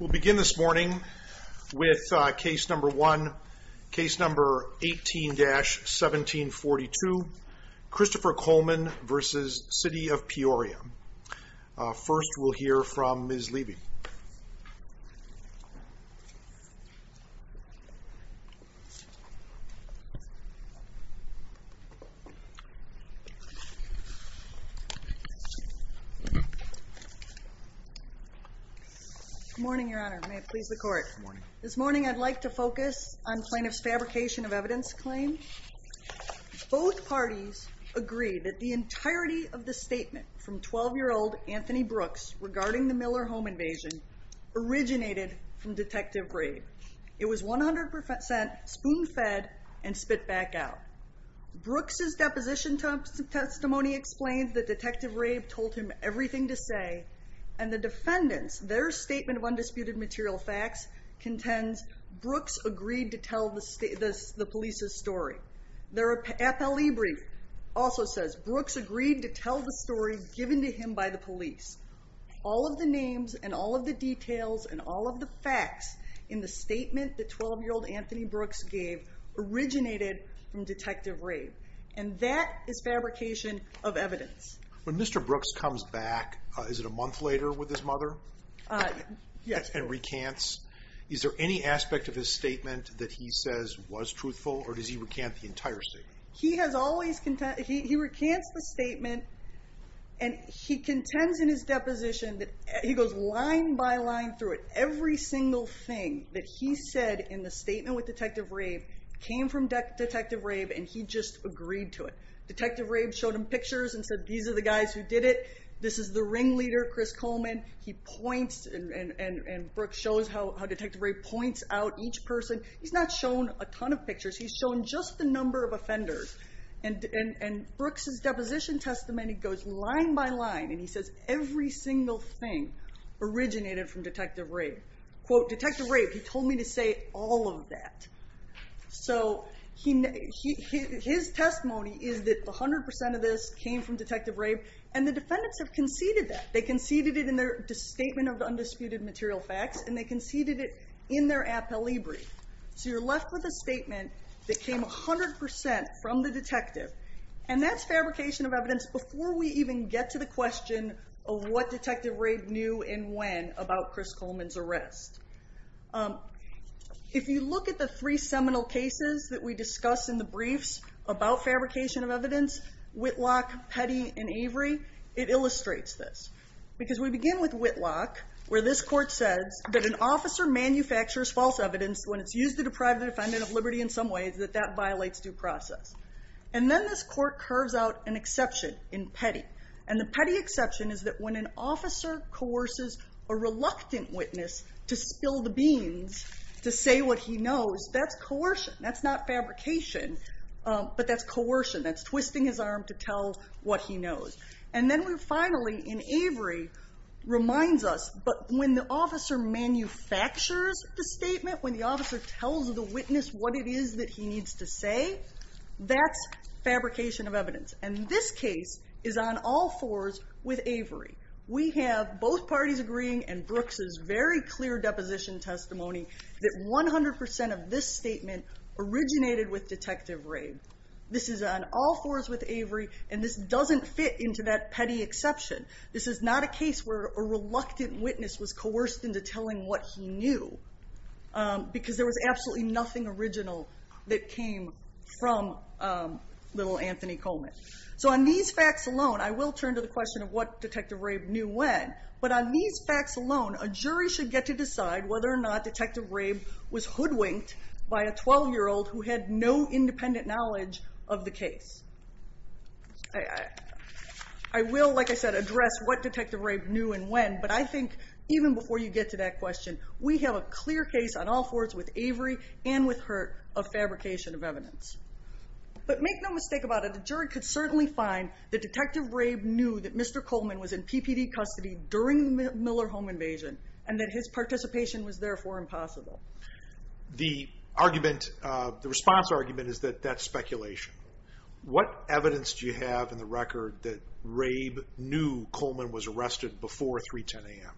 We'll begin this morning with case number one, case number 18-1742, Christopher Coleman v. City of Peoria. First, we'll hear from Ms. Levy. Good morning, Your Honor. May it please the Court. This morning, I'd like to focus on plaintiff's fabrication of evidence claim. Both parties agreed that the entirety of the statement from 12-year-old Anthony Brooks regarding the Miller home invasion originated from Detective Rabe. It was 100% spoon-fed and spit back out. Brooks' deposition testimony explains that Detective Rabe told him everything to say, and the defendants, their statement of undisputed material facts contends Brooks agreed to tell the police's story. Their FLE brief also says Brooks agreed to tell the story given to him by the police. All of the names and all of the details and all of the facts in the statement that 12-year-old Anthony Brooks gave originated from Detective Rabe, and that is fabrication of evidence. When Mr. Brooks comes back, is it a month later with his mother? Yes. And recants, is there any aspect of his statement that he says was truthful, or does he recant the entire statement? He recants the statement, and he contends in his deposition that he goes line by line through it. Every single thing that he said in the statement with Detective Rabe came from Detective Rabe, and he just agreed to it. Detective Rabe showed him pictures and said, these are the guys who did it. This is the ringleader, Chris Coleman. He points, and Brooks shows how Detective Rabe points out each person. He's not shown a ton of pictures. He's shown just the number of offenders. And Brooks' deposition testimony goes line by line, and he says every single thing originated from Detective Rabe. Quote, Detective Rabe, he told me to say all of that. So his testimony is that 100% of this came from Detective Rabe, and the defendants have conceded that. They conceded it in their statement of the undisputed material facts, and they conceded it in their appellee brief. So you're left with a statement that came 100% from the detective, and that's fabrication of evidence before we even get to the question of what Detective Rabe knew and when about Chris Coleman's arrest. If you look at the three seminal cases that we discuss in the briefs about fabrication of evidence, Whitlock, Petty, and Avery, it illustrates this, because we begin with Whitlock, where this court says that an officer manufactures false evidence when it's used to deprive the defendant of liberty in some ways, that that violates due process. And then this court curves out an exception in Petty, and the Petty exception is that when an officer coerces a reluctant witness to spill the beans to say what he knows, that's coercion. That's not fabrication, but that's coercion. That's twisting his arm to tell what he knows. And then we're finally in Avery, reminds us, but when the officer manufactures the statement, when the officer tells the witness what it is that he needs to say, that's fabrication of evidence. And this case is on all fours with Avery. We have both parties agreeing, and Brooks's very clear deposition testimony, that 100% of this statement originated with Detective Rabe. This is on all fours with Avery, and this doesn't fit into that Petty exception. This is not a case where a reluctant witness was coerced into telling what he knew, because there was absolutely nothing original that came from little Anthony Coleman. So on these facts alone, I will turn to the question of what Detective Rabe knew when, but on these facts alone, a jury should get to decide whether or not Detective Rabe was hoodwinked by a 12-year-old who had no independent knowledge of the case. I will, like I said, address what Detective Rabe knew and when, but I think even before you get to that question, we have a clear case on all fours with Avery and with Hurt of fabrication of evidence. But make no mistake about it, a jury could certainly find that Detective Rabe knew that Mr. Coleman was in PPD custody during the Miller home invasion, and that his participation was therefore impossible. The argument, the response argument is that that's speculation. What evidence do you have in the record that Rabe knew Coleman was arrested before 310 AM?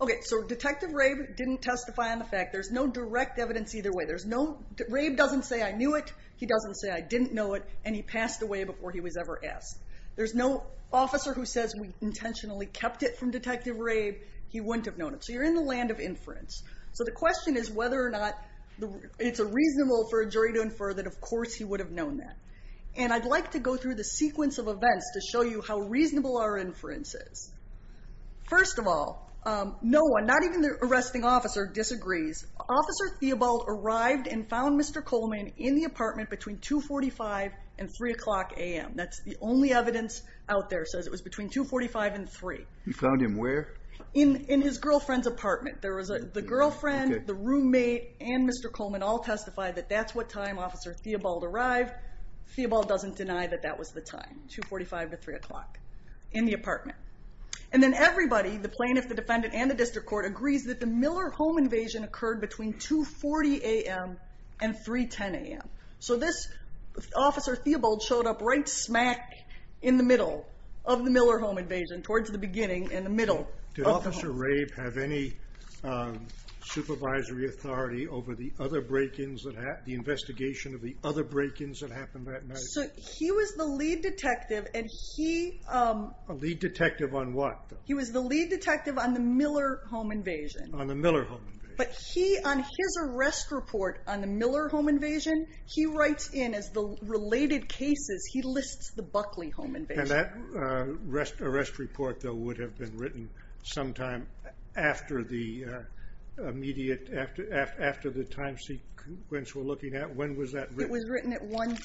Okay, so Detective Rabe didn't testify on the fact, there's no direct evidence either way. Rabe doesn't say I knew it, he doesn't say I didn't know it, and he passed away before he was ever asked. There's no officer who says we intentionally kept it from Detective Rabe, he wouldn't have known it. So you're in the land of inference. So the question is whether or not it's reasonable for a jury to infer that of course he would have known that. And I'd like to go through the sequence of events to show you how reasonable our inference is. First of all, no one, not even the arresting officer disagrees. Officer Theobald arrived and found Mr. Coleman in the apartment between 2.45 and 3 o'clock AM. That's the only evidence out there that says it was between 2.45 and 3. He found him where? In his girlfriend's apartment. The girlfriend, the roommate, and Mr. Coleman all testified that that's what time Officer Theobald arrived. Theobald doesn't deny that that was the time, 2.45 to 3 o'clock in the apartment. And then everybody, the plaintiff, the defendant, and the district court agrees that the Miller home invasion occurred between 2.40 AM and 3.10 AM. So this Officer Theobald showed up right smack in the middle of the Miller home invasion, towards the beginning, in the middle of the home. Did Officer Rabe have any supervisory authority over the other break-ins, the investigation of the other break-ins that happened that night? So he was the lead detective and he... A lead detective on what? He was the lead detective on the Miller home invasion. On the Miller home invasion. But he, on his arrest report on the Miller home invasion, he writes in, as the related cases, he lists the Buckley home invasion. And that arrest report, though, would have been written sometime after the immediate, after the time sequence we're looking at? When was that written? It was written at 1...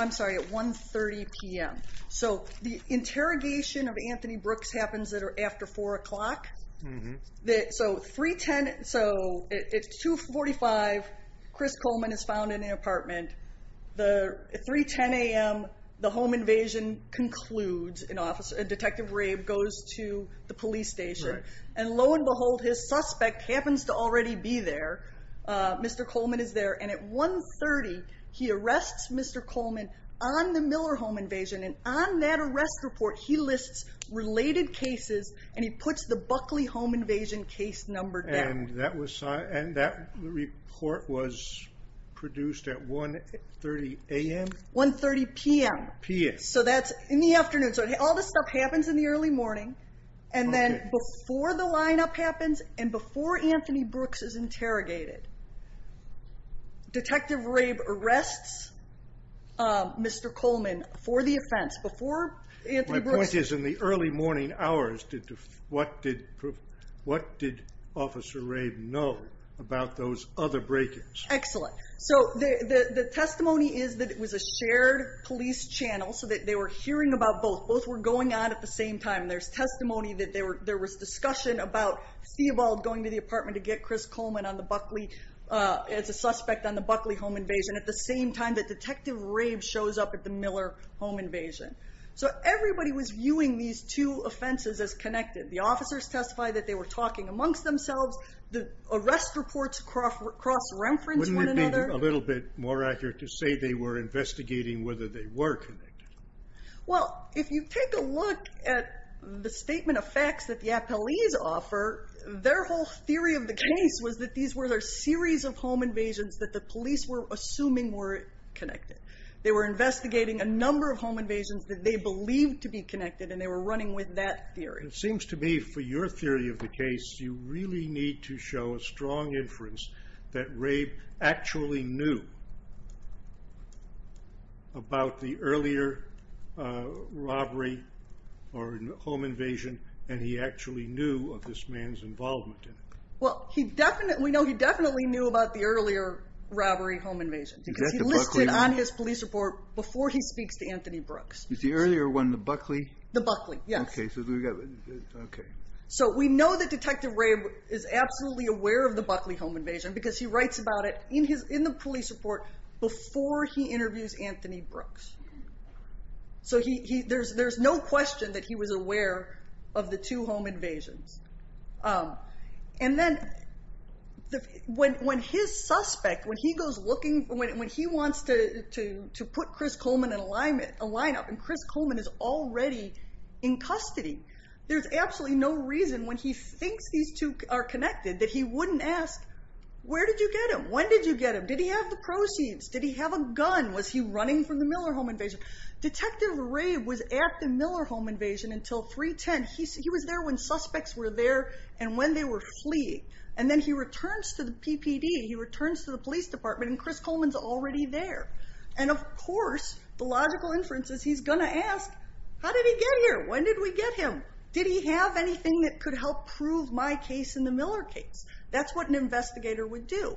I'm sorry, at 1.30 PM. So the interrogation of Anthony Brooks happens at or after 4 o'clock. So 3.10, so at 2.45, Chris Coleman is found in the apartment. At 3.10 AM, the home invasion concludes. Detective Rabe goes to the police station. And lo and behold, his suspect happens to already be there. Mr. Coleman is there. And at 1.30, he arrests Mr. Coleman on the Miller home invasion. And on that arrest report, he lists related cases and he puts the Buckley home invasion case number down. And that report was produced at 1.30 AM? 1.30 PM. PM. So that's in the afternoon. So all this stuff happens in the early morning. And then before the lineup happens and before Anthony Brooks is interrogated, Detective Rabe arrests Mr. Coleman for the offense. My point is, in the early morning hours, what did Officer Rabe know about those other break-ins? Excellent. So the testimony is that it was a shared police channel, so that they were hearing about both. Both were going on at the same time. There's testimony that there was discussion about Stiebald going to the apartment to get Chris Coleman as a suspect on the Buckley home invasion. And at the same time that Detective Rabe shows up at the Miller home invasion. So everybody was viewing these two offenses as connected. The officers testified that they were talking amongst themselves. The arrest reports cross-referenced one another. Wouldn't it be a little bit more accurate to say they were investigating whether they were connected? Well, if you take a look at the statement of facts that the appellees offer, their whole theory of the case was that these were a series of home invasions that the police were assuming were connected. They were investigating a number of home invasions that they believed to be connected, and they were running with that theory. It seems to me, for your theory of the case, you really need to show a strong inference that Rabe actually knew about the earlier robbery or home invasion, and he actually knew of this man's involvement in it. Well, we know he definitely knew about the earlier robbery or home invasion. Is that the Buckley? Because he listed on his police report before he speaks to Anthony Brooks. Is the earlier one the Buckley? The Buckley, yes. OK. So we know that Detective Rabe is absolutely aware of the Buckley home invasion because he writes about it in the police report before he interviews Anthony Brooks. So there's no question that he was aware of the two home invasions. And then when his suspect, when he goes looking, when he wants to put Chris Coleman in a lineup and Chris Coleman is already in custody, there's absolutely no reason when he thinks these two are connected that he wouldn't ask, where did you get him? When did you get him? Did he have the proceeds? Did he have a gun? Was he running from the Miller home invasion? Detective Rabe was at the Miller home invasion until 3-10. He was there when suspects were there and when they were fleeing. And then he returns to the PPD. He returns to the police department, and Chris Coleman's already there. And, of course, the logical inference is he's going to ask, how did he get here? When did we get him? Did he have anything that could help prove my case and the Miller case? That's what an investigator would do.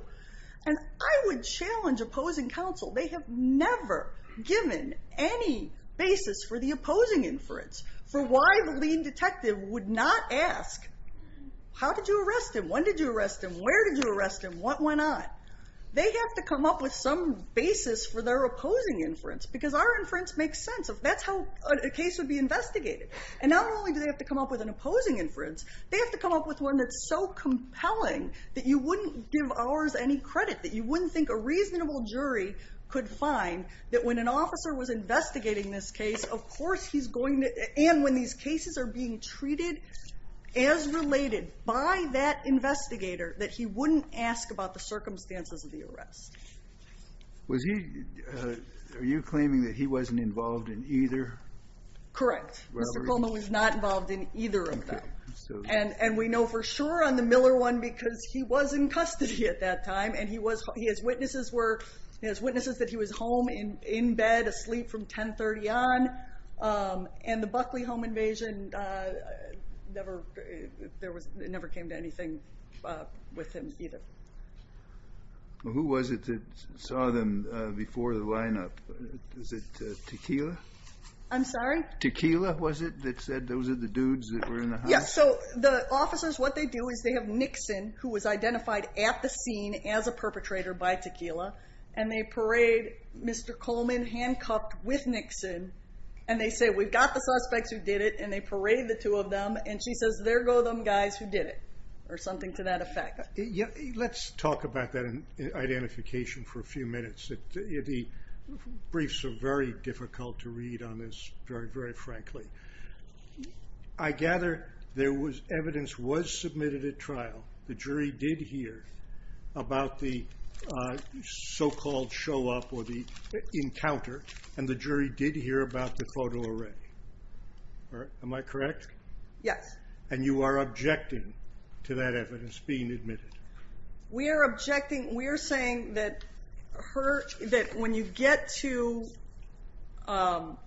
And I would challenge opposing counsel. They have never given any basis for the opposing inference for why the lean detective would not ask, how did you arrest him? When did you arrest him? Where did you arrest him? What went on? They have to come up with some basis for their opposing inference because our inference makes sense. That's how a case would be investigated. And not only do they have to come up with an opposing inference, they have to come up with one that's so compelling that you wouldn't give ours any credit, that you wouldn't think a reasonable jury could find that when an officer was investigating this case, of course he's going to and when these cases are being treated as related by that investigator, that he wouldn't ask about the circumstances of the arrest. Are you claiming that he wasn't involved in either? Correct. Mr. Coleman was not involved in either of them. And we know for sure on the Miller one because he was in custody at that time and he has witnesses that he was home in bed asleep from 10.30 on. And the Buckley home invasion never came to anything with him either. Who was it that saw them before the lineup? Was it Tequila? I'm sorry? Tequila was it that said those are the dudes that were in the house? Yes, so the officers what they do is they have Nixon who was identified at the scene as a perpetrator by Tequila. And they parade Mr. Coleman handcuffed with Nixon. And they say we've got the suspects who did it and they parade the two of them and she says there go them guys who did it. Or something to that effect. Let's talk about that identification for a few minutes. The briefs are very difficult to read on this very, very frankly. I gather there was evidence was submitted at trial. The jury did hear about the so-called show up or the encounter and the jury did hear about the photo array. Am I correct? Yes. And you are objecting to that evidence being admitted. We are objecting. We are saying that when you get to, well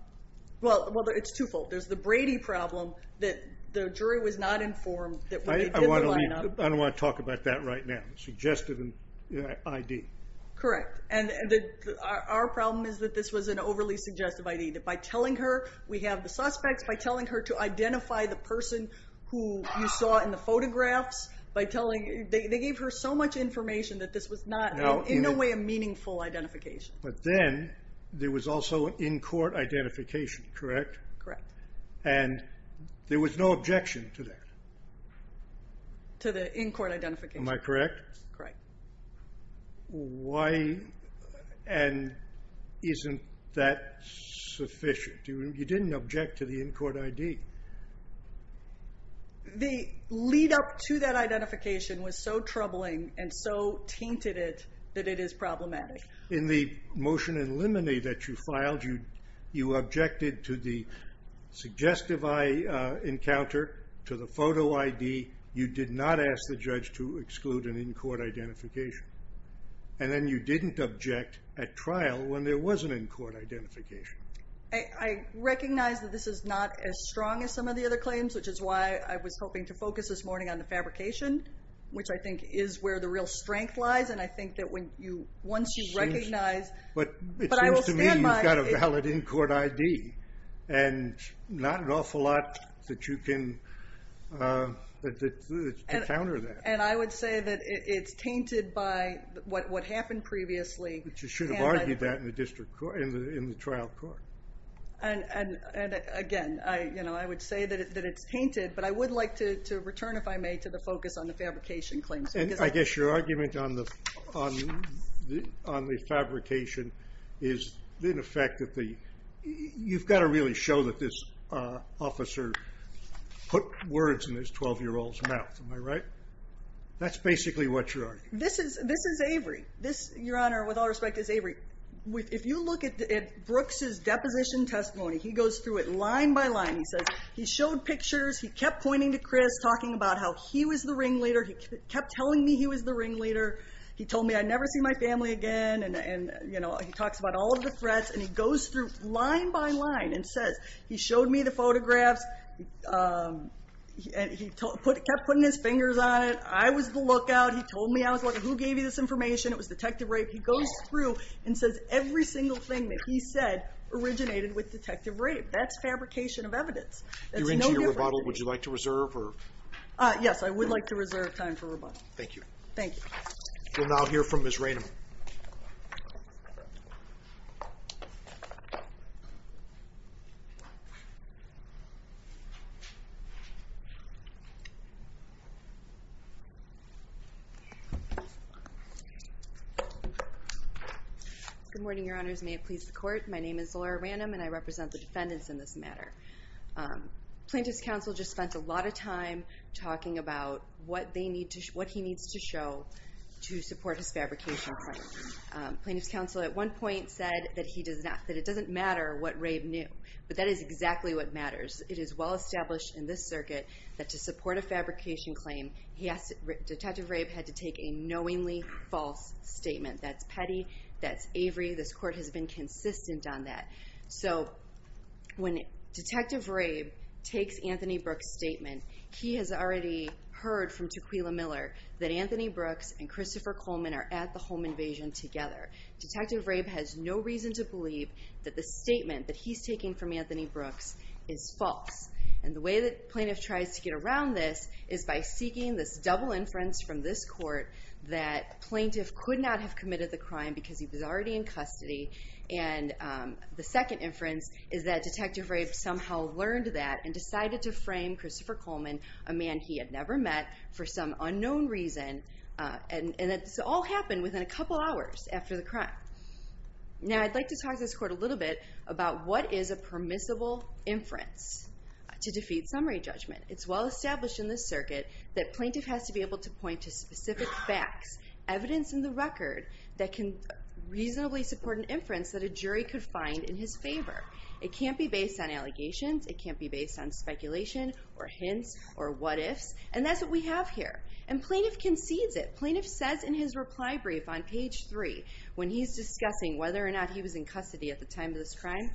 it's two-fold. There's the Brady problem that the jury was not informed that when they did the lineup. I don't want to talk about that right now. Suggestive ID. Correct. And our problem is that this was an overly suggestive ID. That by telling her we have the suspects, by telling her to identify the person who you saw in the photographs. By telling, they gave her so much information that this was not in a way a meaningful identification. But then there was also an in-court identification. Correct? Correct. And there was no objection to that. To the in-court identification. Am I correct? Correct. Why and isn't that sufficient? You didn't object to the in-court ID. The lead up to that identification was so troubling and so tainted it that it is problematic. In the motion in limine that you filed, you objected to the suggestive eye encounter, to the photo ID. You did not ask the judge to exclude an in-court identification. And then you didn't object at trial when there was an in-court identification. I recognize that this is not as strong as some of the other claims, which is why I was hoping to focus this morning on the fabrication, which I think is where the real strength lies. And I think that once you recognize. But it seems to me you've got a valid in-court ID. And not an awful lot that you can encounter that. And I would say that it's tainted by what happened previously. But you should have argued that in the trial court. And again, I would say that it's tainted. But I would like to return, if I may, to the focus on the fabrication claims. And I guess your argument on the fabrication is, in effect, you've got to really show that this officer put words in this 12-year-old's mouth. Am I right? That's basically what you're arguing. This is Avery. Your Honor, with all respect, this is Avery. If you look at Brooks's deposition testimony, he goes through it line by line. He says he showed pictures. He kept pointing to Chris, talking about how he was the ringleader. He kept telling me he was the ringleader. He told me, I'd never see my family again. And he talks about all of the threats. And he goes through line by line and says, he showed me the photographs. And he kept putting his fingers on it. I was the lookout. He told me I was looking. Who gave you this information? It was Detective Rape. He goes through and says every single thing that he said originated with Detective Rape. That's fabrication of evidence. That's no different. You're into your rebuttal. Would you like to reserve? Yes, I would like to reserve time for rebuttal. Thank you. Thank you. We'll now hear from Ms. Ranum. Good morning, Your Honors. May it please the Court. My name is Laura Ranum, and I represent the defendants in this matter. Plaintiff's counsel just spent a lot of time talking about what he needs to show to support his fabrication claim. Plaintiff's counsel at one point said that it doesn't matter what Rape knew. But that is exactly what matters. It is well established in this circuit that to support a fabrication claim, Detective Rape had to take a knowingly false statement. That's petty. That's avery. This Court has been consistent on that. So when Detective Rape takes Anthony Brooks' statement, he has already heard from Tequila Miller that Anthony Brooks and Christopher Coleman are at the home invasion together. Detective Rape has no reason to believe that the statement that he's taking from Anthony Brooks is false. And the way that Plaintiff tries to get around this is by seeking this double inference from this Court that Plaintiff could not have committed the crime because he was already in custody. And the second inference is that Detective Rape somehow learned that and decided to frame Christopher Coleman, a man he had never met, for some unknown reason. And this all happened within a couple hours after the crime. Now I'd like to talk to this Court a little bit about what is a permissible inference to defeat summary judgment. It's well established in this circuit that Plaintiff has to be able to point to specific facts, evidence in the record, that can reasonably support an inference that a jury could find in his favor. It can't be based on allegations. It can't be based on speculation or hints or what-ifs. And that's what we have here. And Plaintiff concedes it. Plaintiff says in his reply brief on page 3, when he's discussing whether or not he was in custody at the time of this crime,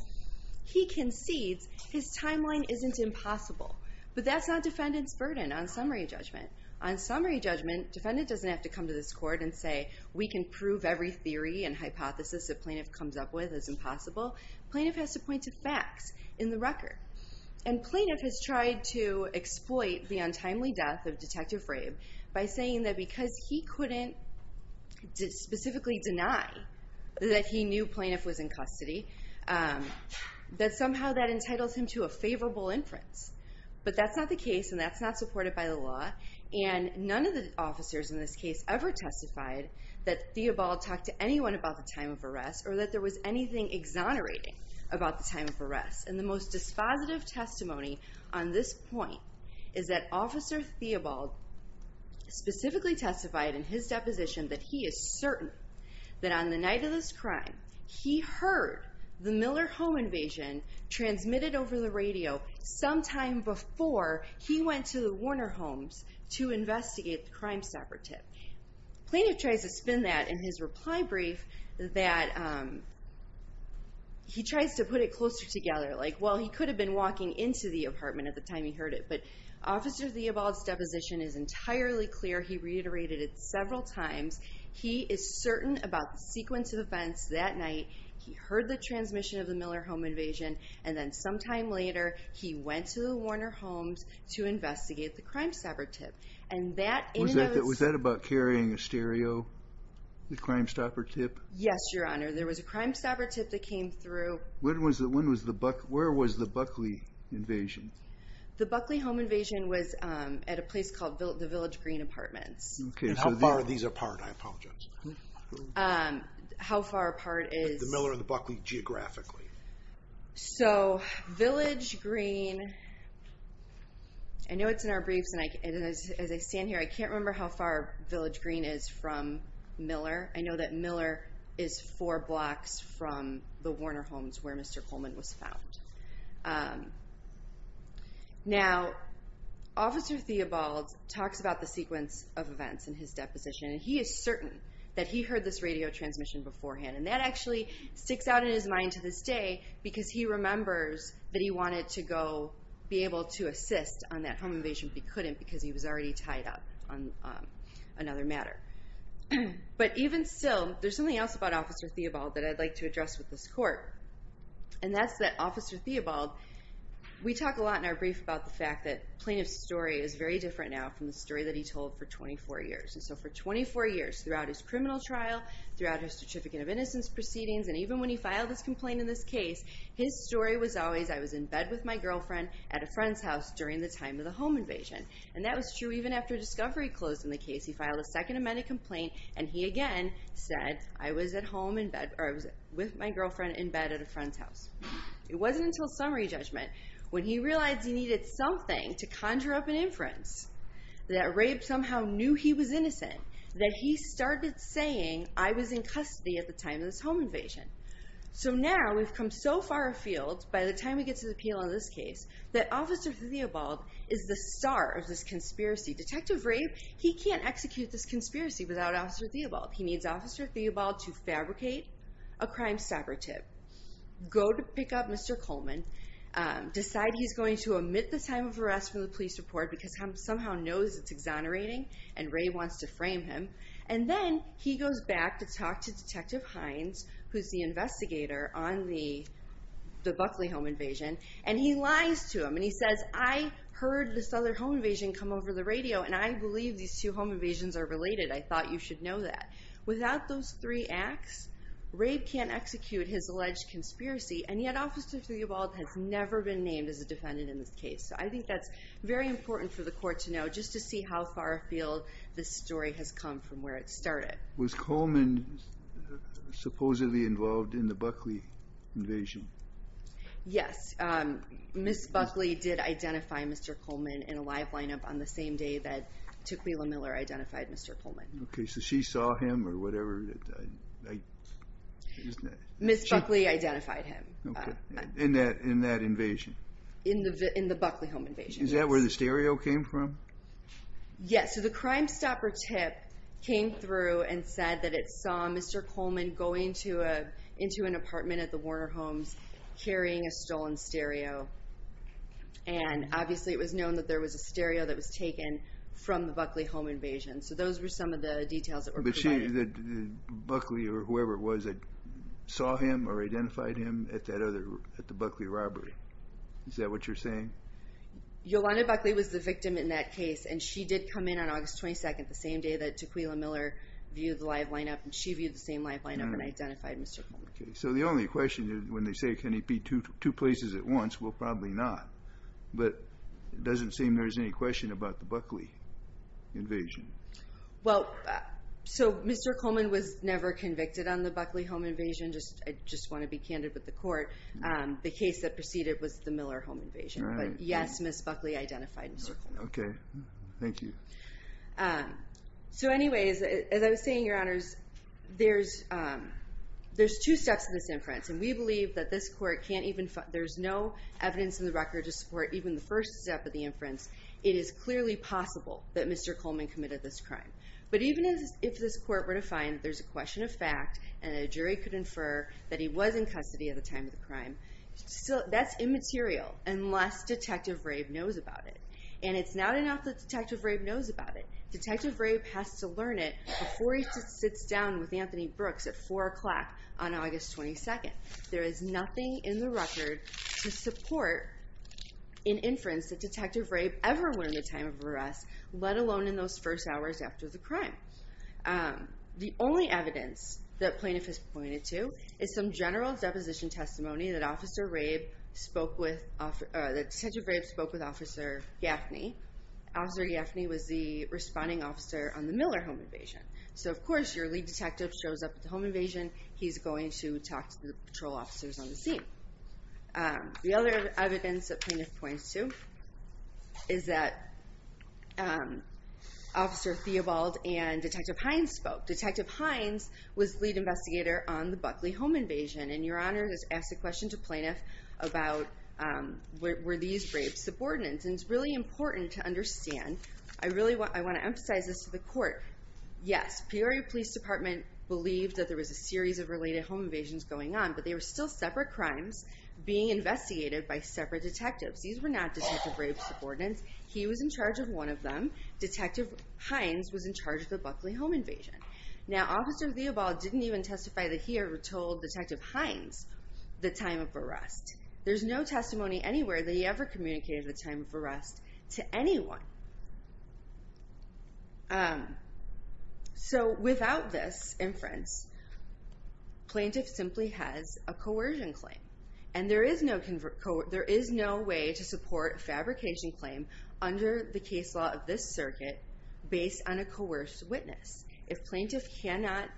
he concedes his timeline isn't impossible. But that's not Defendant's burden on summary judgment. On summary judgment, Defendant doesn't have to come to this Court and say, we can prove every theory and hypothesis that Plaintiff comes up with is impossible. Plaintiff has to point to facts in the record. And Plaintiff has tried to exploit the untimely death of Detective Rape by saying that because he couldn't specifically deny that he knew Plaintiff was in custody, that somehow that entitles him to a favorable inference. But that's not the case, and that's not supported by the law. And none of the officers in this case ever testified that Theobald talked to anyone about the time of arrest or that there was anything exonerating about the time of arrest. And the most dispositive testimony on this point is that Officer Theobald specifically testified in his deposition that he is certain that on the night of this crime, he heard the Miller home invasion transmitted over the radio sometime before he went to the Warner homes to investigate the Crime Stopper tip. Plaintiff tries to spin that in his reply brief that he tries to put it closer together. Like, well, he could have been walking into the apartment at the time he heard it, but Officer Theobald's deposition is entirely clear. He reiterated it several times. He is certain about the sequence of events that night. He heard the transmission of the Miller home invasion, and then sometime later he went to the Warner homes to investigate the Crime Stopper tip. Was that about carrying a stereo, the Crime Stopper tip? Yes, Your Honor. There was a Crime Stopper tip that came through. Where was the Buckley invasion? The Buckley home invasion was at a place called the Village Green Apartments. And how far are these apart? I apologize. How far apart is... The Miller and the Buckley geographically. So, Village Green... I know it's in our briefs, and as I stand here, I can't remember how far Village Green is from Miller. I know that Miller is four blocks from the Warner homes where Mr. Coleman was found. Now, Officer Theobald talks about the sequence of events in his deposition, and he is certain that he heard this radio transmission beforehand, and that actually sticks out in his mind to this day, because he remembers that he wanted to go be able to assist on that home invasion, but he couldn't because he was already tied up on another matter. But even still, there's something else about Officer Theobald that I'd like to address with this Court, and that's that Officer Theobald... We talk a lot in our brief about the fact that the plaintiff's story is very different now from the story that he told for 24 years. And so for 24 years, throughout his criminal trial, throughout his Certificate of Innocence proceedings, and even when he filed his complaint in this case, his story was always, I was in bed with my girlfriend at a friend's house during the time of the home invasion. And that was true even after discovery closed in the case. He filed a Second Amendment complaint, and he again said, I was with my girlfriend in bed at a friend's house. It wasn't until summary judgment when he realized he needed something to conjure up an inference that Rabe somehow knew he was innocent, that he started saying, I was in custody at the time of this home invasion. So now we've come so far afield by the time we get to the appeal on this case that Officer Theobald is the star of this conspiracy. Detective Rabe, he can't execute this conspiracy without Officer Theobald. He needs Officer Theobald to fabricate a crime sabotage, go to pick up Mr. Coleman, decide he's going to omit the time of arrest from the police report because he somehow knows it's exonerating, and Rabe wants to frame him. And then he goes back to talk to Detective Hines, who's the investigator on the Buckley home invasion, and he lies to him. And he says, I heard this other home invasion come over the radio, and I believe these two home invasions are related. I thought you should know that. Without those three acts, Rabe can't execute his alleged conspiracy, and yet Officer Theobald has never been named as a defendant in this case. So I think that's very important for the court to know, just to see how far afield this story has come from where it started. Was Coleman supposedly involved in the Buckley invasion? Yes. Ms. Buckley did identify Mr. Coleman in a live lineup on the same day that Tukwila Miller identified Mr. Coleman. Okay, so she saw him or whatever? Ms. Buckley identified him. In that invasion? In the Buckley home invasion, yes. Is that where the stereo came from? Yes. So the Crimestopper tip came through and said that it saw Mr. Coleman going into an apartment at the Warner Homes, carrying a stolen stereo. And obviously it was known that there was a stereo that was taken from the Buckley home invasion. So those were some of the details that were provided. Did you say that Buckley or whoever it was saw him or identified him at the Buckley robbery? Is that what you're saying? Yolanda Buckley was the victim in that case, and she did come in on August 22nd, the same day that Tukwila Miller viewed the live lineup, and she viewed the same live lineup and identified Mr. Coleman. Okay, so the only question is when they say can he be two places at once, well, probably not. But it doesn't seem there's any question about the Buckley invasion. Well, so Mr. Coleman was never convicted on the Buckley home invasion. I just want to be candid with the court. The case that preceded was the Miller home invasion. But, yes, Ms. Buckley identified Mr. Coleman. Okay. Thank you. So anyways, as I was saying, Your Honors, there's two steps in this inference, and we believe that this court can't even find there's no evidence in the record to support even the first step of the inference. It is clearly possible that Mr. Coleman committed this crime. But even if this court were to find there's a question of fact and a jury could infer that he was in custody at the time of the crime, that's immaterial unless Detective Rabe knows about it. And it's not enough that Detective Rabe knows about it. Detective Rabe has to learn it before he sits down with Anthony Brooks at 4 o'clock on August 22nd. There is nothing in the record to support an inference that Detective Rabe ever went in the time of arrest, let alone in those first hours after the crime. The only evidence that plaintiff has pointed to is some general deposition testimony that Detective Rabe spoke with Officer Gaffney. Officer Gaffney was the responding officer on the Miller home invasion. So, of course, your lead detective shows up at the home invasion. He's going to talk to the patrol officers on the scene. The other evidence that plaintiff points to is that Officer Theobald and Detective Hines spoke. Detective Hines was lead investigator on the Buckley home invasion. And Your Honor has asked a question to plaintiff about were these rapes subordinates. And it's really important to understand. I really want to emphasize this to the court. Yes, Peoria Police Department believed that there was a series of related home invasions going on, but they were still separate crimes being investigated by separate detectives. These were not Detective Rabe's subordinates. He was in charge of one of them. Detective Hines was in charge of the Buckley home invasion. Now, Officer Theobald didn't even testify that he ever told Detective Hines the time of arrest. There's no testimony anywhere that he ever communicated the time of arrest to anyone. So without this inference, plaintiff simply has a coercion claim. And there is no way to support a fabrication claim under the case law of this circuit based on a coerced witness. If plaintiff cannot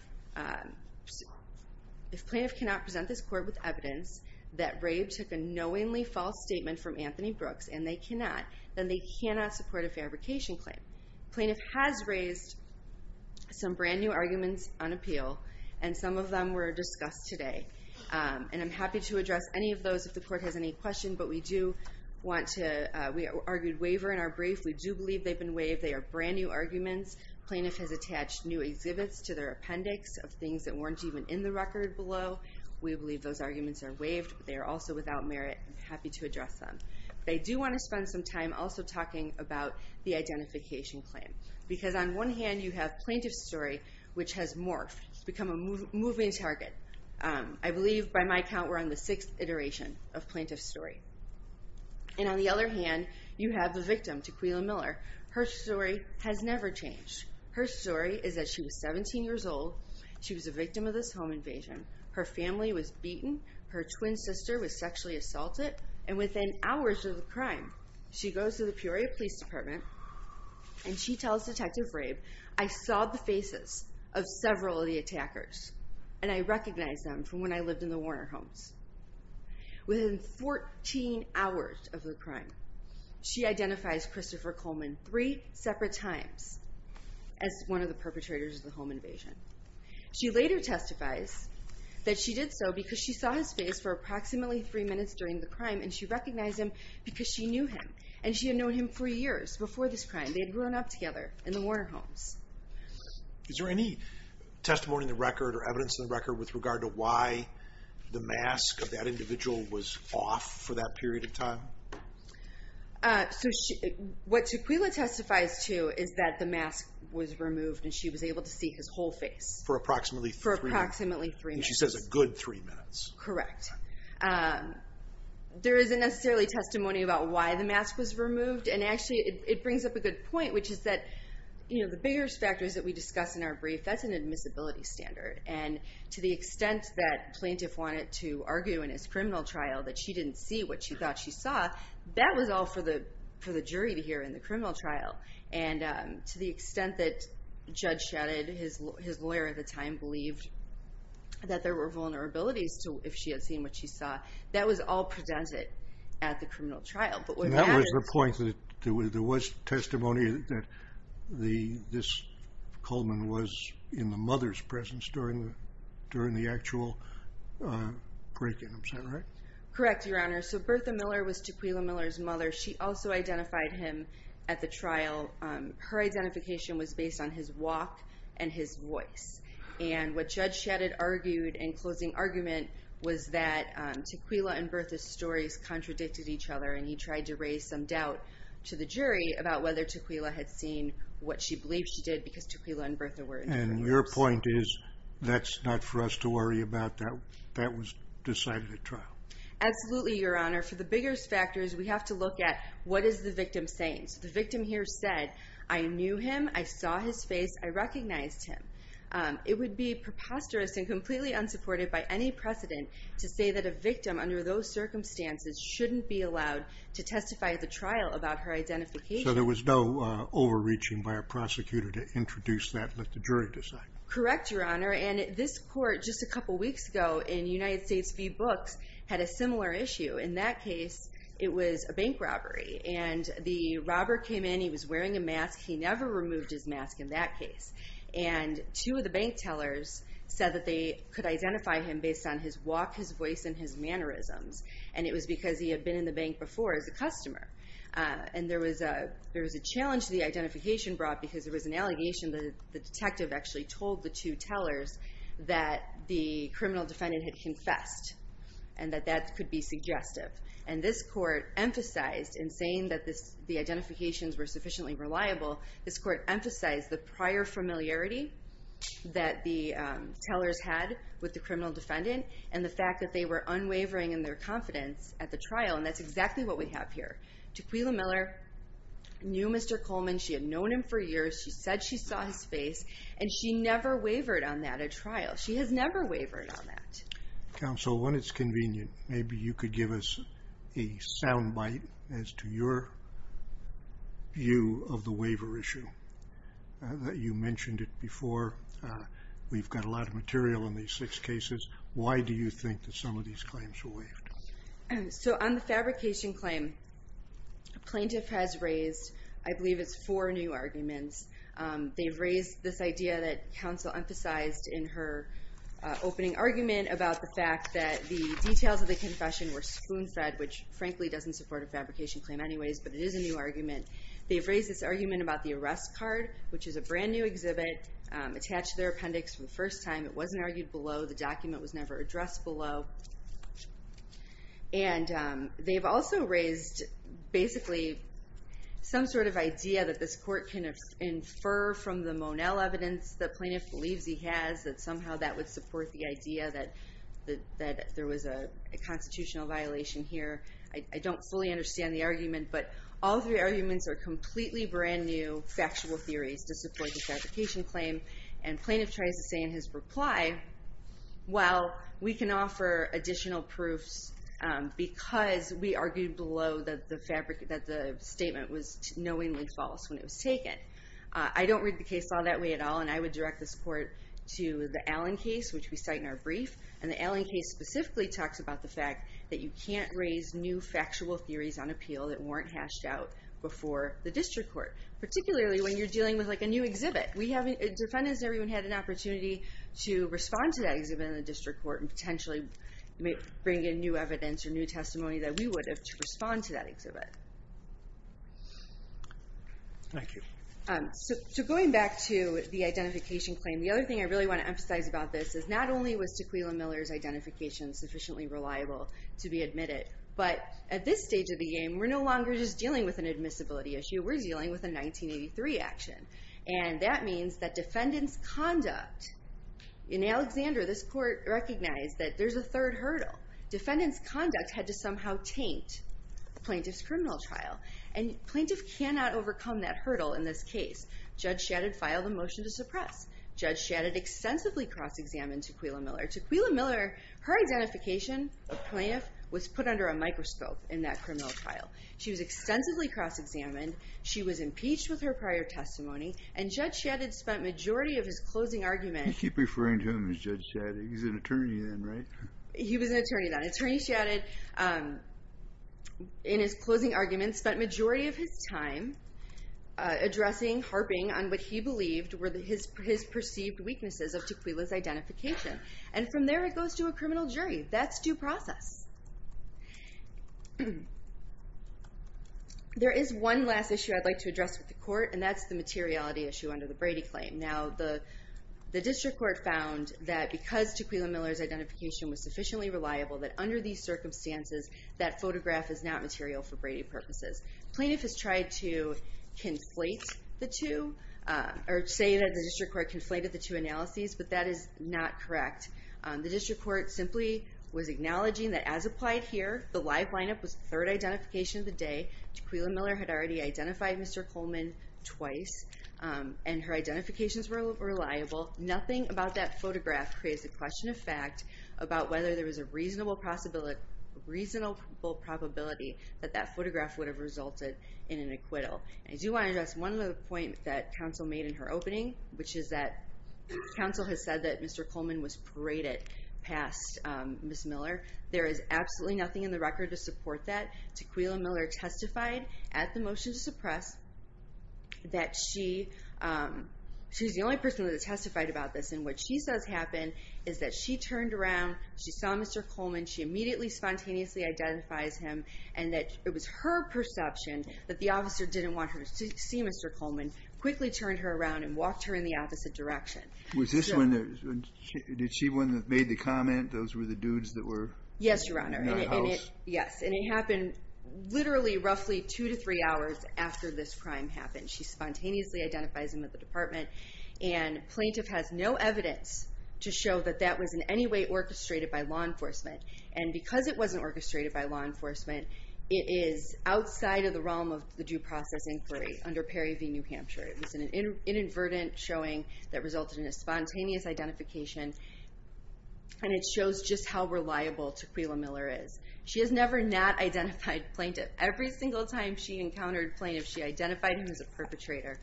present this court with evidence that Rabe took a knowingly false statement from Anthony Brooks, and they cannot, then they cannot support a fabrication claim. Plaintiff has raised some brand new arguments on appeal, and some of them were discussed today. And I'm happy to address any of those if the court has any questions. But we do want to—we argued waiver in our brief. We do believe they've been waived. They are brand new arguments. Plaintiff has attached new exhibits to their appendix of things that weren't even in the record below. We believe those arguments are waived. They are also without merit. I'm happy to address them. They do want to spend some time also talking about the identification claim. Because on one hand, you have plaintiff's story, which has morphed, become a moving target. I believe, by my count, we're on the sixth iteration of plaintiff's story. And on the other hand, you have the victim, Tequila Miller. Her story has never changed. Her story is that she was 17 years old. She was a victim of this home invasion. Her family was beaten. Her twin sister was sexually assaulted. And within hours of the crime, she goes to the Peoria Police Department, and she tells Detective Rabe, I saw the faces of several of the attackers, and I recognized them from when I lived in the Warner homes. Within 14 hours of the crime, she identifies Christopher Coleman three separate times as one of the perpetrators of the home invasion. She later testifies that she did so because she saw his face for approximately three minutes during the crime, and she recognized him because she knew him. And she had known him for years before this crime. They had grown up together in the Warner homes. Is there any testimony in the record or evidence in the record with regard to why the mask of that individual was off for that period of time? What Tequila testifies to is that the mask was removed, and she was able to see his whole face. For approximately three minutes. For approximately three minutes. And she says a good three minutes. Correct. There isn't necessarily testimony about why the mask was removed, and actually it brings up a good point, which is that the biggest factors that we discuss in our brief, that's an admissibility standard. And to the extent that plaintiff wanted to argue in his criminal trial that she didn't see what she thought she saw, that was all for the jury to hear in the criminal trial. And to the extent that Judge Shadid, his lawyer at the time, believed that there were vulnerabilities if she had seen what she saw, that was all presented at the criminal trial. And that was the point that there was testimony that this Coleman was in the mother's presence during the actual break-in. Correct, Your Honor. So Bertha Miller was Tequila Miller's mother. She also identified him at the trial. Her identification was based on his walk and his voice. And what Judge Shadid argued in closing argument was that Tequila and Bertha's stories contradicted each other, and he tried to raise some doubt to the jury about whether Tequila had seen what she believed she did because Tequila and Bertha were in different rooms. And your point is that's not for us to worry about. That was decided at trial. Absolutely, Your Honor. For the biggest factors, we have to look at what is the victim saying. So the victim here said, I knew him, I saw his face, I recognized him. It would be preposterous and completely unsupported by any precedent to say that a victim under those circumstances shouldn't be allowed to testify at the trial about her identification. So there was no overreaching by a prosecutor to introduce that and let the jury decide. Correct, Your Honor. And this court just a couple weeks ago in United States v. Books had a similar issue. In that case, it was a bank robbery. And the robber came in, he was wearing a mask. He never removed his mask in that case. And two of the bank tellers said that they could identify him based on his walk, his voice, and his mannerisms. And it was because he had been in the bank before as a customer. And there was a challenge to the identification brought because there was an allegation that the detective actually told the two tellers that the criminal defendant had confessed and that that could be suggestive. And this court emphasized in saying that the identifications were sufficiently reliable, this court emphasized the prior familiarity that the tellers had with the criminal defendant and the fact that they were unwavering in their confidence at the trial. And that's exactly what we have here. Tequila Miller knew Mr. Coleman. She had known him for years. She said she saw his face. And she never wavered on that at trial. She has never wavered on that. Counsel, when it's convenient, maybe you could give us a sound bite as to your view of the waiver issue. You mentioned it before. We've got a lot of material on these six cases. Why do you think that some of these claims were waived? So on the fabrication claim, a plaintiff has raised, I believe it's four new arguments. They've raised this idea that counsel emphasized in her opening argument about the fact that the details of the confession were spoon-fed, which frankly doesn't support a fabrication claim anyways, but it is a new argument. They've raised this argument about the arrest card, which is a brand-new exhibit attached to their appendix for the first time. It wasn't argued below. The document was never addressed below. And they've also raised basically some sort of idea that this court can infer from the Monell evidence the plaintiff believes he has, that somehow that would support the idea that there was a constitutional violation here. I don't fully understand the argument, but all three arguments are completely brand-new factual theories to support the fabrication claim, and plaintiff tries to say in his reply, well, we can offer additional proofs because we argued below that the statement was knowingly false when it was taken. I don't read the case law that way at all, and I would direct this court to the Allen case, which we cite in our brief. And the Allen case specifically talks about the fact that you can't raise new factual theories on appeal that weren't hashed out before the district court, particularly when you're dealing with a new exhibit. Defendants and everyone had an opportunity to respond to that exhibit in the district court and potentially bring in new evidence or new testimony that we would have to respond to that exhibit. Thank you. So going back to the identification claim, the other thing I really want to emphasize about this is not only was Tequila Miller's identification sufficiently reliable to be admitted, but at this stage of the game, we're no longer just dealing with an admissibility issue. We're dealing with a 1983 action, and that means that defendant's conduct... In Alexander, this court recognized that there's a third hurdle. Defendant's conduct had to somehow taint the plaintiff's criminal trial, and plaintiff cannot overcome that hurdle in this case. Judge Shadid filed a motion to suppress. Judge Shadid extensively cross-examined Tequila Miller. To Tequila Miller, her identification of plaintiff was put under a microscope in that criminal trial. She was extensively cross-examined. She was impeached with her prior testimony, and Judge Shadid spent majority of his closing argument... You keep referring to him as Judge Shadid. He's an attorney then, right? He was an attorney then. Attorney Shadid, in his closing argument, spent majority of his time addressing, harping on what he believed were his perceived weaknesses of Tequila's identification. And from there, it goes to a criminal jury. That's due process. There is one last issue I'd like to address with the court, and that's the materiality issue under the Brady claim. Now, the district court found that because Tequila Miller's identification was sufficiently reliable, that under these circumstances, that photograph is not material for Brady purposes. Plaintiff has tried to conflate the two, or say that the district court conflated the two analyses, but that is not correct. The district court simply was acknowledging that, as applied here, the live lineup was the third identification of the day. Tequila Miller had already identified Mr. Coleman twice, and her identifications were reliable. Nothing about that photograph creates a question of fact about whether there was a reasonable probability that that photograph would have resulted in an acquittal. I do want to address one other point that counsel made in her opening, which is that counsel has said that Mr. Coleman was paraded past Ms. Miller. There is absolutely nothing in the record to support that. Tequila Miller testified at the motion to suppress that she's the only person that testified about this, and what she says happened is that she turned around, she saw Mr. Coleman, she immediately spontaneously identifies him, and that it was her perception that the officer didn't want her to see Mr. Coleman, quickly turned her around and walked her in the opposite direction. Was this when she made the comment those were the dudes that were in the house? Yes, Your Honor. Yes, and it happened literally roughly two to three hours after this crime happened. She spontaneously identifies him at the department, and plaintiff has no evidence to show that that was in any way orchestrated by law enforcement. And because it wasn't orchestrated by law enforcement, it is outside of the realm of the due process inquiry under Perry v. New Hampshire. It was an inadvertent showing that resulted in a spontaneous identification, and it shows just how reliable Tequila Miller is. She has never not identified plaintiff. Every single time she encountered plaintiff, she identified him as a perpetrator.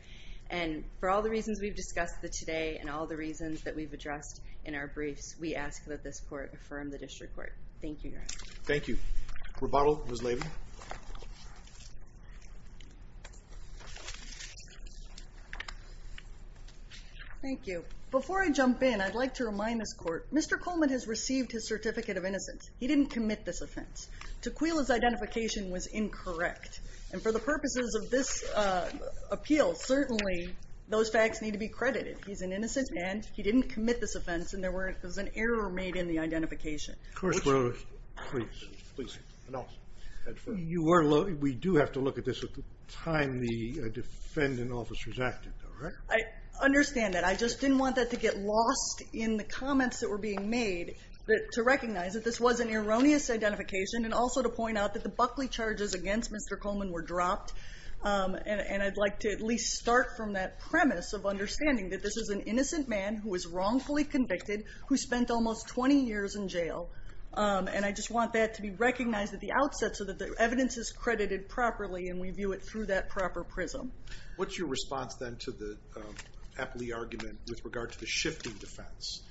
And for all the reasons we've discussed today, and all the reasons that we've addressed in our briefs, we ask that this court affirm the district court. Thank you, Your Honor. Thank you. Rebuttal, Ms. Levy. Thank you. Before I jump in, I'd like to remind this court, Mr. Coleman has received his Certificate of Innocence. He didn't commit this offense. Tequila's identification was incorrect. And for the purposes of this appeal, certainly those facts need to be credited. He's an innocent man. He didn't commit this offense, and there was an error made in the identification. Of course. We do have to look at this at the time the defendant officers acted. I understand that. I just didn't want that to get lost in the comments that were being made, to recognize that this was an erroneous identification, and also to point out that the Buckley charges against Mr. Coleman were dropped. And I'd like to at least start from that premise of understanding that this is an innocent man who was wrongfully convicted, who spent almost 20 years in jail. And I just want that to be recognized at the outset so that the evidence is credited properly and we view it through that proper prism. What's your response, then, to the Apley argument with regard to the shifting defense?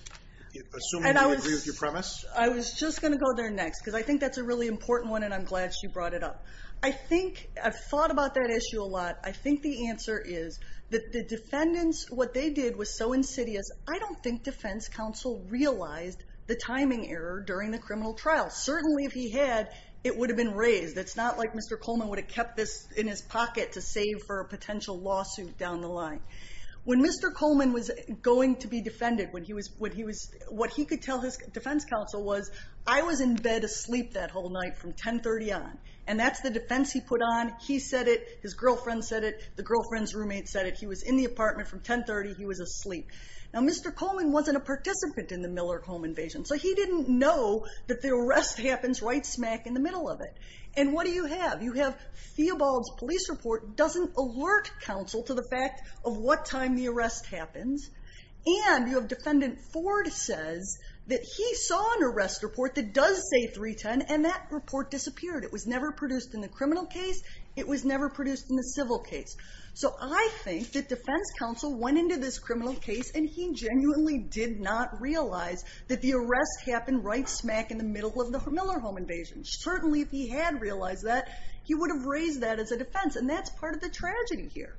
Assuming you agree with your premise? I was just going to go there next because I think that's a really important one, and I'm glad she brought it up. I've thought about that issue a lot. I think the answer is that the defendants, what they did was so insidious. I don't think defense counsel realized the timing error during the criminal trial. Certainly if he had, it would have been raised. It's not like Mr. Coleman would have kept this in his pocket to save for a potential lawsuit down the line. When Mr. Coleman was going to be defended, what he could tell his defense counsel was, I was in bed asleep that whole night from 10.30 on, and that's the defense he put on. He said it, his girlfriend said it, the girlfriend's roommate said it. He was in the apartment from 10.30, he was asleep. Now, Mr. Coleman wasn't a participant in the Miller home invasion, so he didn't know that the arrest happens right smack in the middle of it. And what do you have? You have Theobald's police report doesn't alert counsel to the fact of what time the arrest happens, and you have defendant Ford says that he saw an arrest report that does say 3.10, and that report disappeared. It was never produced in the criminal case. It was never produced in the civil case. So I think that defense counsel went into this criminal case, and he genuinely did not realize that the arrest happened right smack in the middle of the Miller home invasion. Certainly if he had realized that, he would have raised that as a defense, and that's part of the tragedy here,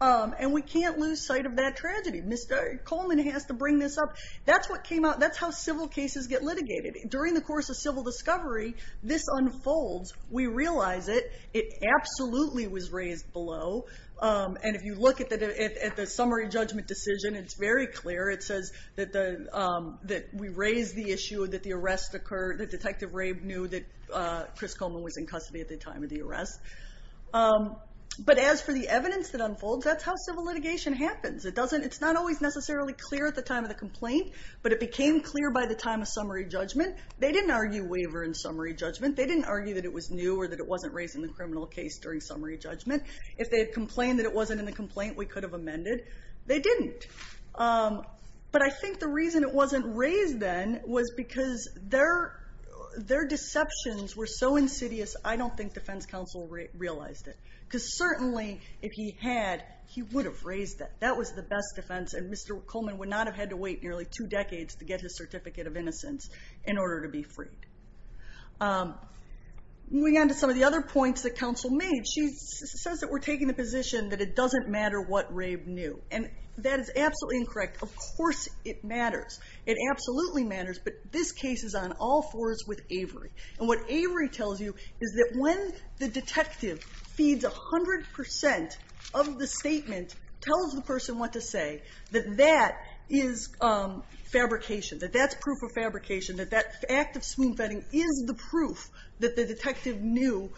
and we can't lose sight of that tragedy. Mr. Coleman has to bring this up. That's what came out. That's how civil cases get litigated. During the course of civil discovery, this unfolds. We realize it. It absolutely was raised below, and if you look at the summary judgment decision, it's very clear. It says that we raise the issue that the arrest occurred, that Detective Rabe knew that Chris Coleman was in custody at the time of the arrest. But as for the evidence that unfolds, that's how civil litigation happens. It's not always necessarily clear at the time of the complaint, but it became clear by the time of summary judgment. They didn't argue waiver in summary judgment. They didn't argue that it was new or that it wasn't raised in the criminal case during summary judgment. If they had complained that it wasn't in the complaint, we could have amended. They didn't. But I think the reason it wasn't raised then was because their deceptions were so insidious, I don't think defense counsel realized it. Because certainly if he had, he would have raised it. That was the best defense, and Mr. Coleman would not have had to wait nearly two decades to get his certificate of innocence in order to be freed. Moving on to some of the other points that counsel made, she says that we're taking the position that it doesn't matter what Rabe knew. And that is absolutely incorrect. Of course it matters. It absolutely matters, but this case is on all fours with Avery. And what Avery tells you is that when the detective feeds 100% of the statement, tells the person what to say, that that is fabrication, that that's proof of fabrication, that that act of spoon-feeding is the proof that the detective knew,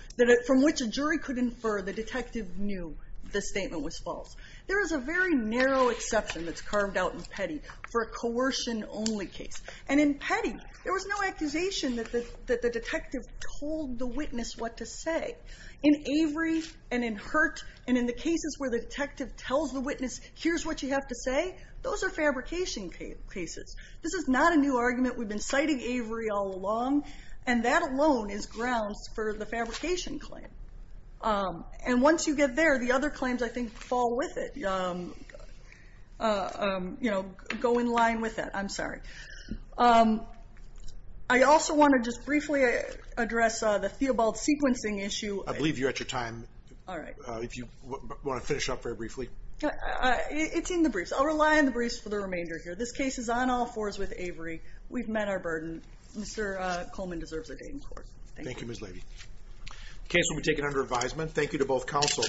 from which a jury could infer the detective knew the statement was false. There is a very narrow exception that's carved out in Petty for a coercion-only case. And in Petty, there was no accusation that the detective told the witness what to say. In Avery and in Hurt and in the cases where the detective tells the witness, here's what you have to say, those are fabrication cases. This is not a new argument. We've been citing Avery all along, and that alone is grounds for the fabrication claim. And once you get there, the other claims, I think, fall with it, go in line with that. I'm sorry. I also want to just briefly address the Theobald sequencing issue. I believe you're at your time. All right. If you want to finish up very briefly. It's in the briefs. I'll rely on the briefs for the remainder here. This case is on all fours with Avery. We've met our burden. Mr. Coleman deserves a day in court. Thank you. Thank you, Ms. Levy. The case will be taken under advisement. Thank you to both counsel.